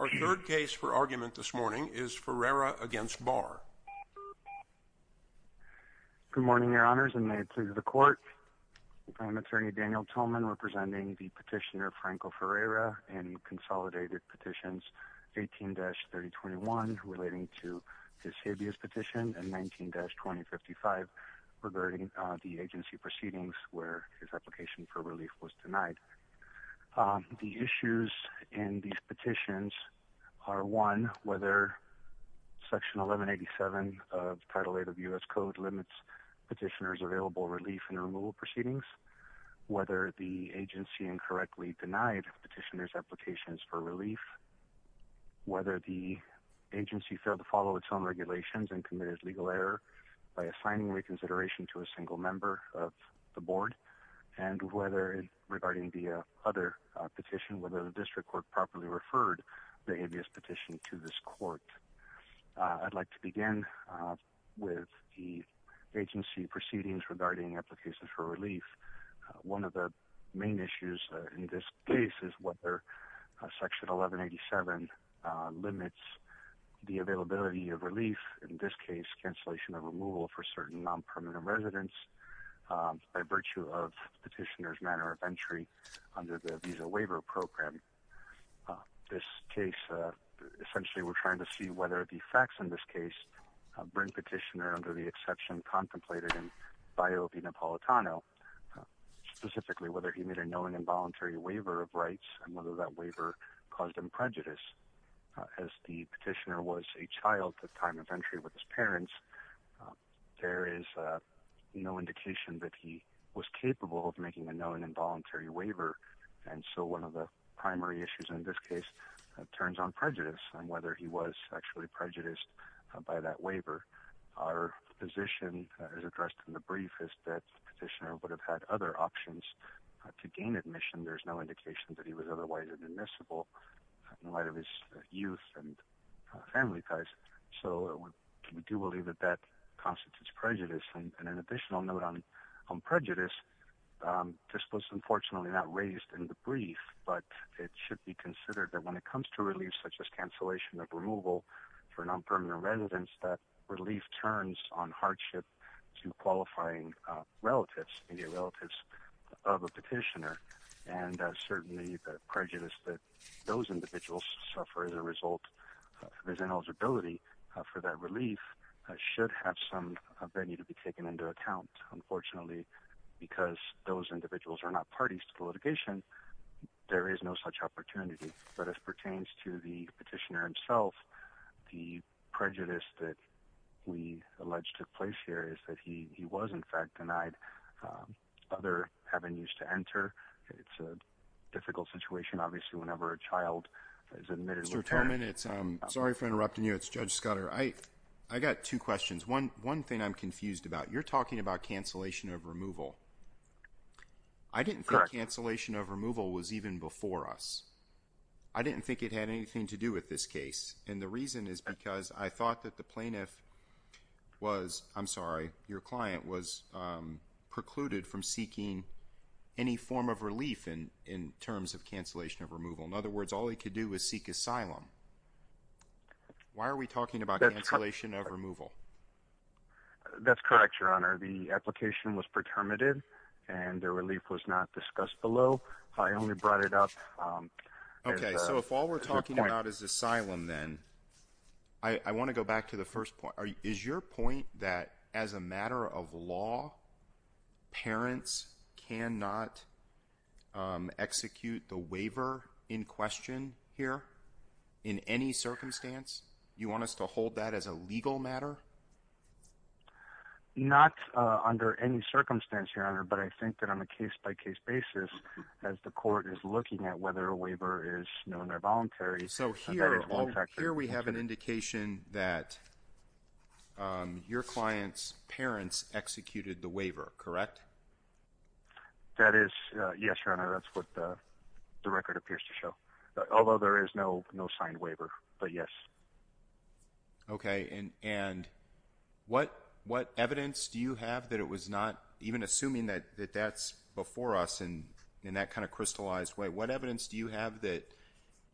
Our third case for argument this morning is Ferreyra against Barr. Good morning, your honors, and may it please the court. I'm attorney Daniel Tillman, representing the petitioner Franco Ferreyra, and he consolidated petitions 18-3021 relating to his habeas petition and 19-2055 regarding the agency proceedings where his application for relief was denied. The issues in these petitions are, one, whether Section 1187 of Title VIII of U.S. Code limits petitioners' available relief and removal proceedings, whether the agency incorrectly denied petitioners' applications for relief, whether the agency failed to follow its own regulations and committed legal error by assigning reconsideration to a single member of the board, and whether, regarding the other petition, whether the district court properly referred the habeas petition to this court. I'd like to begin with the agency proceedings regarding applications for relief. One of the main issues in this case is whether Section 1187 limits the availability of relief, in this case cancellation of removal for certain non-permanent residents by virtue of petitioner's manner of entry under the Visa Waiver Program. This case, essentially we're trying to see whether the facts in this case bring petitioner under the exception contemplated in bio of the Napolitano, specifically whether he made a known involuntary waiver of rights and whether that waiver caused him prejudice. As the petitioner was a child at time of entry with his parents, there is no indication that he was capable of making a known involuntary waiver, and so one of the primary issues in this case turns on prejudice on whether he was actually prejudiced by that waiver. Our position as addressed in the brief is that petitioner would have had other options to gain admission. There's no indication that he was otherwise admissible in light of his youth and family ties, so we do believe that that constitutes prejudice. And an additional note on prejudice, this was unfortunately not raised in the brief, but it should be considered that when it comes to relief, such as cancellation of removal for non-permanent residents, that relief turns on hardship to qualifying relatives of a petitioner. And certainly the prejudice that those individuals suffer as a result of his ineligibility for that relief should have some venue to be taken into account. Unfortunately, because those individuals are not parties to the litigation, there is no such opportunity. But as pertains to the petitioner himself, the prejudice that we allege took place here is that he was, in fact, denied other avenues to enter. It's a difficult situation, obviously, whenever a child is admitted. Sorry for interrupting you. It's Judge Scudder. I got two questions. One thing I'm confused about. You're talking about cancellation of removal. I didn't think cancellation of removal was even before us. I didn't think it had anything to do with this case. And the reason is because I thought that the plaintiff was, I'm sorry, your client, was precluded from seeking any form of relief in terms of cancellation of removal. In other words, all he could do was seek asylum. Why are we talking about cancellation of removal? That's correct, Your Honor. The application was pretermited and the relief was not discussed below. I only brought it up as a point. I want to go back to the first point. Is your point that as a matter of law, parents cannot execute the waiver in question here in any circumstance? You want us to hold that as a legal matter? Not under any circumstance, Your Honor, but I think that on a case-by-case basis, as the court is looking at whether a waiver is known or voluntary. So here we have an indication that your client's parents executed the waiver, correct? That is, yes, Your Honor. That's what the record appears to show. Although there is no signed waiver, but yes. Okay, and what evidence do you have that it was not, even assuming that that's before us in that kind of crystallized way, what evidence do you have that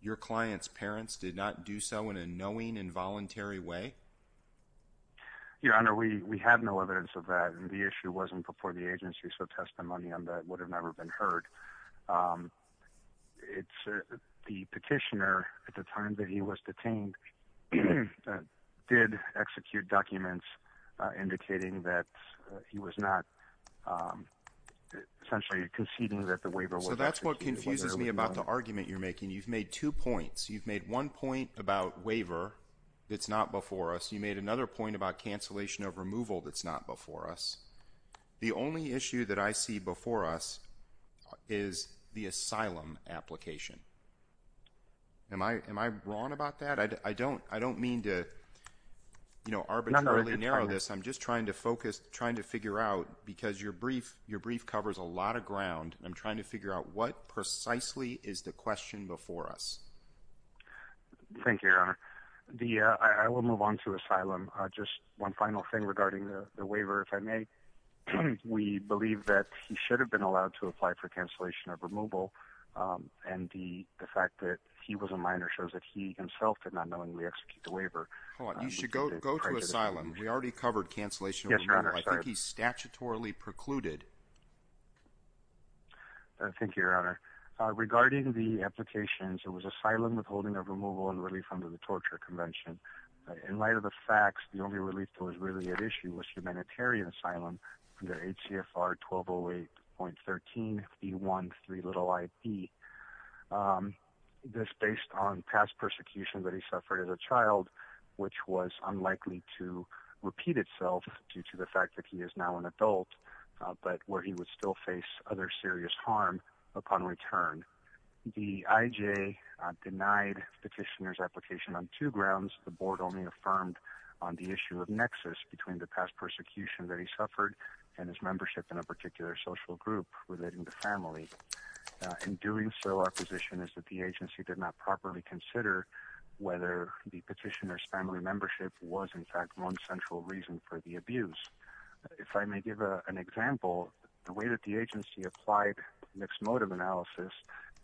your client's parents did not do so in a knowing, involuntary way? Your Honor, we have no evidence of that, and the issue wasn't before the agency, so testimony on that would have never been heard. The petitioner, at the time that he was detained, did execute documents indicating that he was not essentially conceding that the waiver was executed. So that's what confuses me about the argument you're making. You've made two points. You've made one point about waiver that's not before us. You made another point about cancellation of removal that's not before us. The only issue that I see before us is the asylum application. Am I wrong about that? I don't mean to arbitrarily narrow this. I'm just trying to figure out, because your brief covers a lot of ground, and I'm trying to figure out what precisely is the question before us. Thank you, Your Honor. I will move on to asylum. Just one final thing regarding the waiver, if I may. We believe that he should have been allowed to apply for cancellation of removal, and the fact that he was a minor shows that he himself did not knowingly execute the waiver. Hold on. You should go to asylum. We already covered cancellation of removal. I think he's statutorily precluded. Thank you, Your Honor. Regarding the applications, it was asylum withholding of removal and relief under the Torture Convention. In light of the facts, the only relief that was really at issue was humanitarian asylum under HCFR 1208.13E1-3iB. This based on past persecution that he suffered as a child, which was unlikely to repeat itself due to the fact that he is now an adult, but where he would still face other serious harm upon return. The IJ denied petitioner's application on two grounds. The board only affirmed on the issue of nexus between the past persecution that he suffered and his membership in a particular social group relating to family. In doing so, our position is that the agency did not properly consider whether the petitioner's family membership was, in fact, one central reason for the abuse. If I may give an example, the way that the agency applied mixed motive analysis,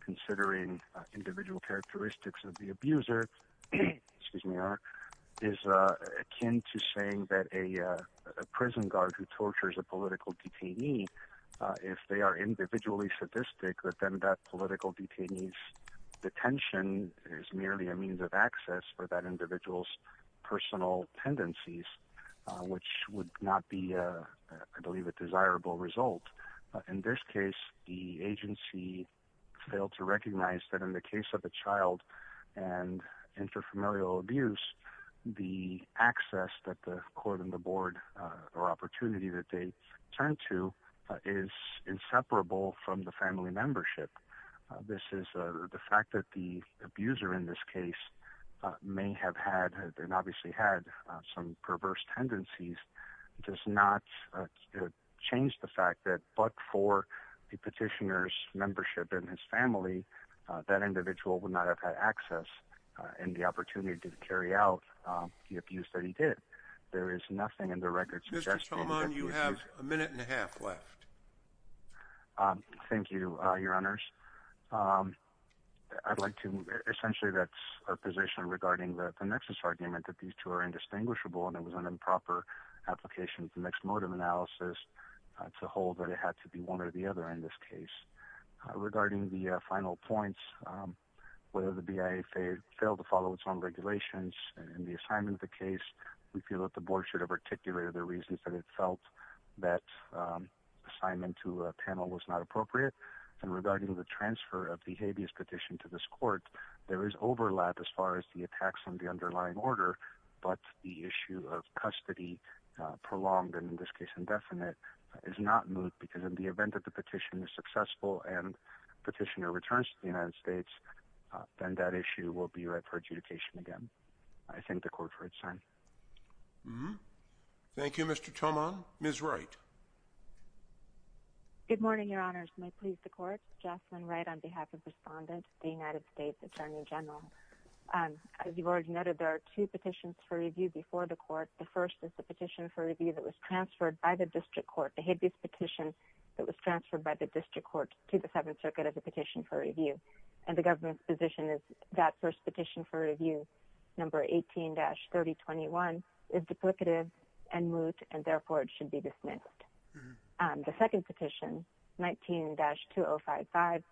considering individual characteristics of the abuser, is akin to saying that a prison guard who tortures a political detainee, if they are individually sadistic, that then that political detainee's detention is merely a means of access for that individual's personal tendencies, which would not be, I believe, a desirable result. In this case, the agency failed to recognize that in the case of a child and intrafamilial abuse, the access that the court and the board or opportunity that they turn to is inseparable from the family membership. This is the fact that the abuser in this case may have had, and obviously had, some perverse tendencies does not change the fact that but for the petitioner's membership in his family, that individual would not have had access and the opportunity to carry out the abuse that he did. There is nothing in the record suggesting that this is- Mr. Solomon, you have a minute and a half left. Thank you, Your Honors. I'd like to- essentially that's our position regarding the nexus argument that these two are indistinguishable and it was an improper application of mixed motive analysis to hold that it had to be one or the other in this case. Regarding the final points, whether the BIA failed to follow its own regulations in the assignment of the case, we feel that the board should have articulated the reasons that it felt that assignment to a panel was not appropriate. And regarding the transfer of the habeas petition to this court, there is overlap as far as the attacks on the underlying order, but the issue of custody, prolonged and in this case indefinite, is not moved because in the event that the petition is successful and petitioner returns to the United States, then that issue will be read for adjudication again. I thank the court for its time. Thank you, Mr. Tomon. Ms. Wright. Good morning, Your Honors. May it please the court. Jocelyn Wright on behalf of Respondent, the United States Attorney General. As you've already noted, there are two petitions for review before the court. The first is the petition for review that was transferred by the district court. It was transferred by the district court to the Seventh Circuit as a petition for review. And the government's position is that first petition for review, number 18-3021, is duplicative and moot, and therefore it should be dismissed. The second petition, 19-2055,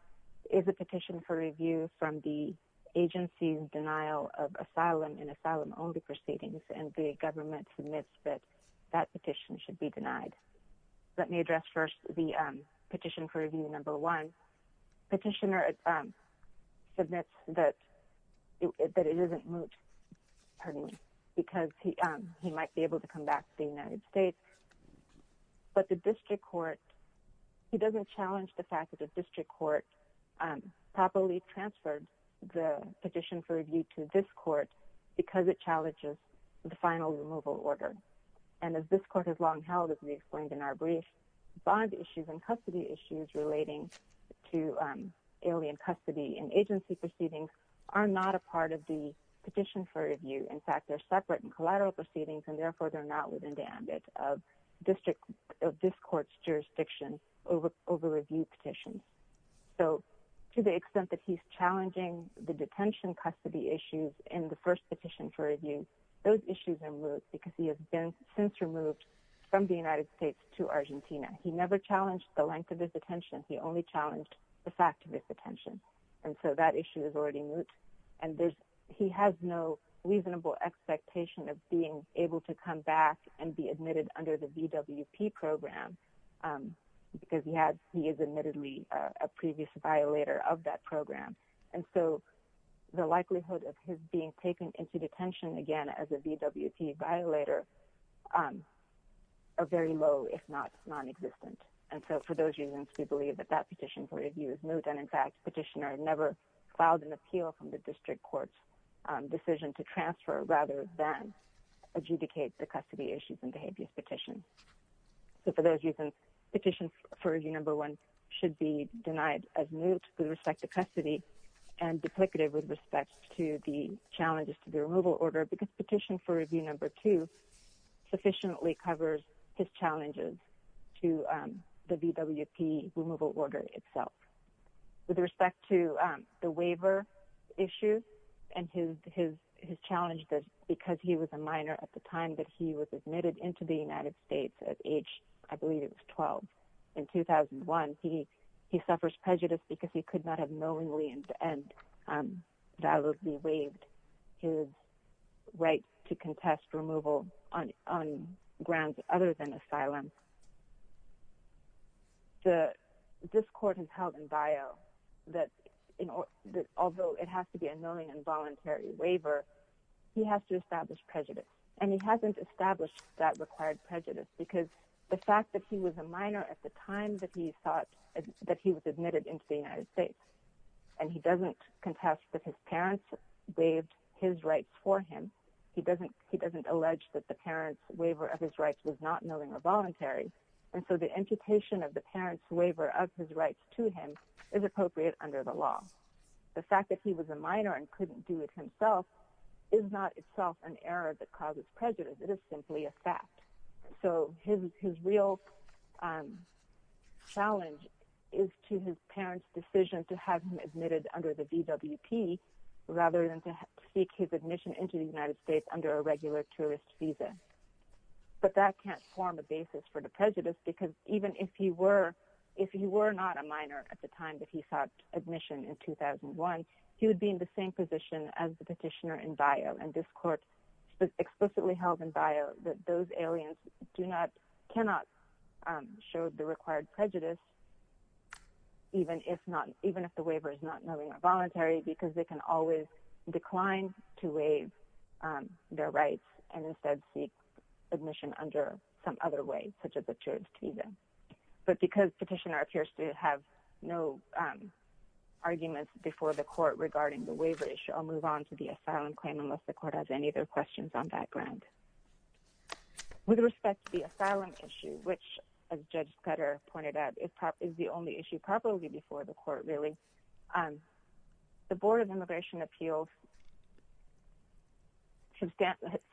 is a petition for review from the agency's denial of asylum in asylum-only proceedings, and the government admits that that petition should be denied. Let me address first the petition for review number one. The petitioner admits that it isn't moot because he might be able to come back to the United States. But the district court, he doesn't challenge the fact that the district court properly transferred the petition for review to this court because it challenges the final removal order. And as this court has long held, as we explained in our brief, bond issues and custody issues relating to alien custody and agency proceedings are not a part of the petition for review. In fact, they're separate and collateral proceedings, and therefore they're not within the ambit of this court's jurisdiction over review petitions. So to the extent that he's challenging the detention custody issues in the first petition for review, those issues are moot because he has been since removed from the United States to Argentina. He never challenged the length of his detention. He only challenged the fact of his detention. And so that issue is already moot, and he has no reasonable expectation of being able to come back and be admitted under the VWP program because he is admittedly a previous violator of that program. And so the likelihood of his being taken into detention again as a VWP violator are very low, if not non-existent. And so for those reasons, we believe that that petition for review is moot. And in fact, petitioner never filed an appeal from the district court's decision to transfer rather than adjudicate the custody issues and behaviors petition. So for those reasons, petition for review number one should be denied as moot with respect to custody and duplicative with respect to the challenges to the removal order, because petition for review number two sufficiently covers his challenges to the VWP removal order itself. With respect to the waiver issue and his challenge because he was a minor at the time that he was admitted into the United States at age, I believe it was 12. In 2001, he suffers prejudice because he could not have knowingly and validly waived his right to contest removal on grounds other than asylum. The district court has held in bio that although it has to be a knowingly and voluntary waiver, he has to establish prejudice. And he hasn't established that required prejudice because the fact that he was a minor at the time that he was admitted into the United States, and he doesn't contest that his parents waived his rights for him. He doesn't he doesn't allege that the parents waiver of his rights was not knowingly or voluntary. And so the imputation of the parents waiver of his rights to him is appropriate under the law. The fact that he was a minor and couldn't do it himself is not itself an error that causes prejudice. It is simply a fact. So his real challenge is to his parents' decision to have him admitted under the VWP rather than to seek his admission into the United States under a regular tourist visa. But that can't form a basis for the prejudice because even if he were if he were not a minor at the time that he sought admission in 2001, he would be in the same position as the petitioner in bio. And this court explicitly held in bio that those aliens do not cannot show the required prejudice. Even if not, even if the waiver is not knowingly or voluntary, because they can always decline to waive their rights and instead seek admission under some other way, such as a tourist visa. But because petitioner appears to have no arguments before the court regarding the waiver issue, I'll move on to the asylum claim unless the court has any other questions on that ground. With respect to the asylum issue, which, as Judge Petter pointed out, is the only issue probably before the court, really. The Board of Immigration Appeals.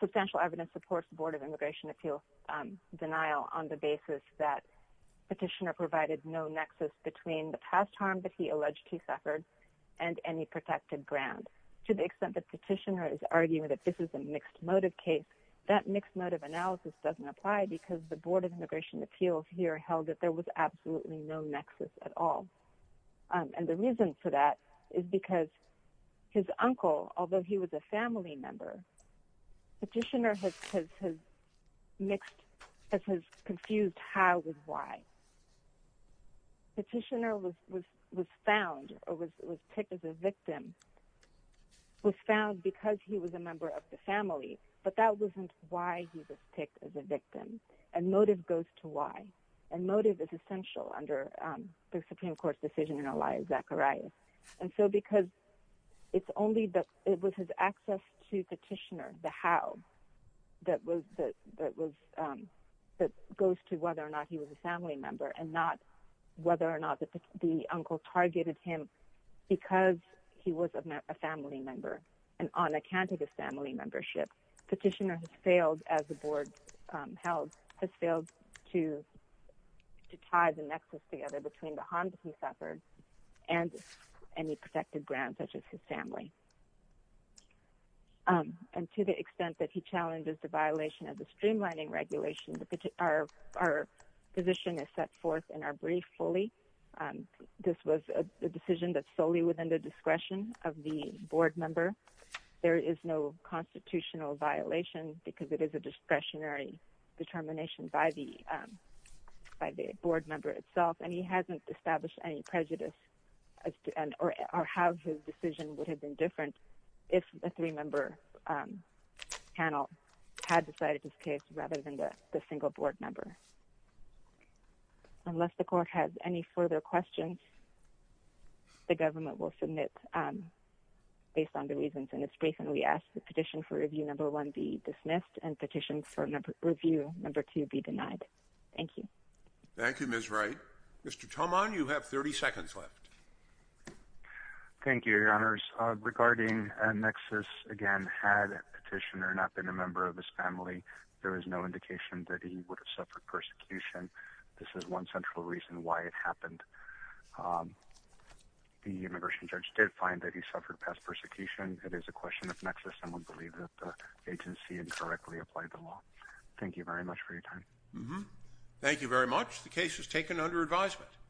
Substantial evidence supports the Board of Immigration Appeals' denial on the basis that petitioner provided no nexus between the past harm that he alleged he suffered and any protected ground. To the extent that petitioner is arguing that this is a mixed motive case, that mixed motive analysis doesn't apply because the Board of Immigration Appeals here held that there was absolutely no nexus at all. And the reason for that is because his uncle, although he was a family member, petitioner has confused how with why. Petitioner was found, or was picked as a victim, was found because he was a member of the family, but that wasn't why he was picked as a victim. And motive goes to why. And motive is essential under the Supreme Court's decision in Elias Zacharias. And so because it's only that it was his access to petitioner, the how, that goes to whether or not he was a family member and not whether or not the uncle targeted him because he was a family member. And on account of his family membership, petitioner has failed as the Board held, has failed to tie the nexus together between the harm he suffered and any protected ground such as his family. And to the extent that he challenges the violation of the streamlining regulation, our position is set forth in our brief fully. This was a decision that's solely within the discretion of the Board member. There is no constitutional violation because it is a discretionary determination by the Board member itself. And he hasn't established any prejudice as to how his decision would have been different if a three-member panel had decided this case rather than the single Board member. Unless the court has any further questions, the government will submit based on the reasons in its brief. And we ask the petition for review. Number one, be dismissed and petitions for review. Number two, be denied. Thank you. Thank you, Ms. Wright. Mr. Tomon, you have 30 seconds left. Thank you, Your Honors. Regarding nexus, again, had petitioner not been a member of his family, there is no indication that he would have suffered persecution. This is one central reason why it happened. The immigration judge did find that he suffered past persecution. It is a question of nexus and we believe that the agency incorrectly applied the law. Thank you very much for your time. Thank you very much. The case is taken under advisement.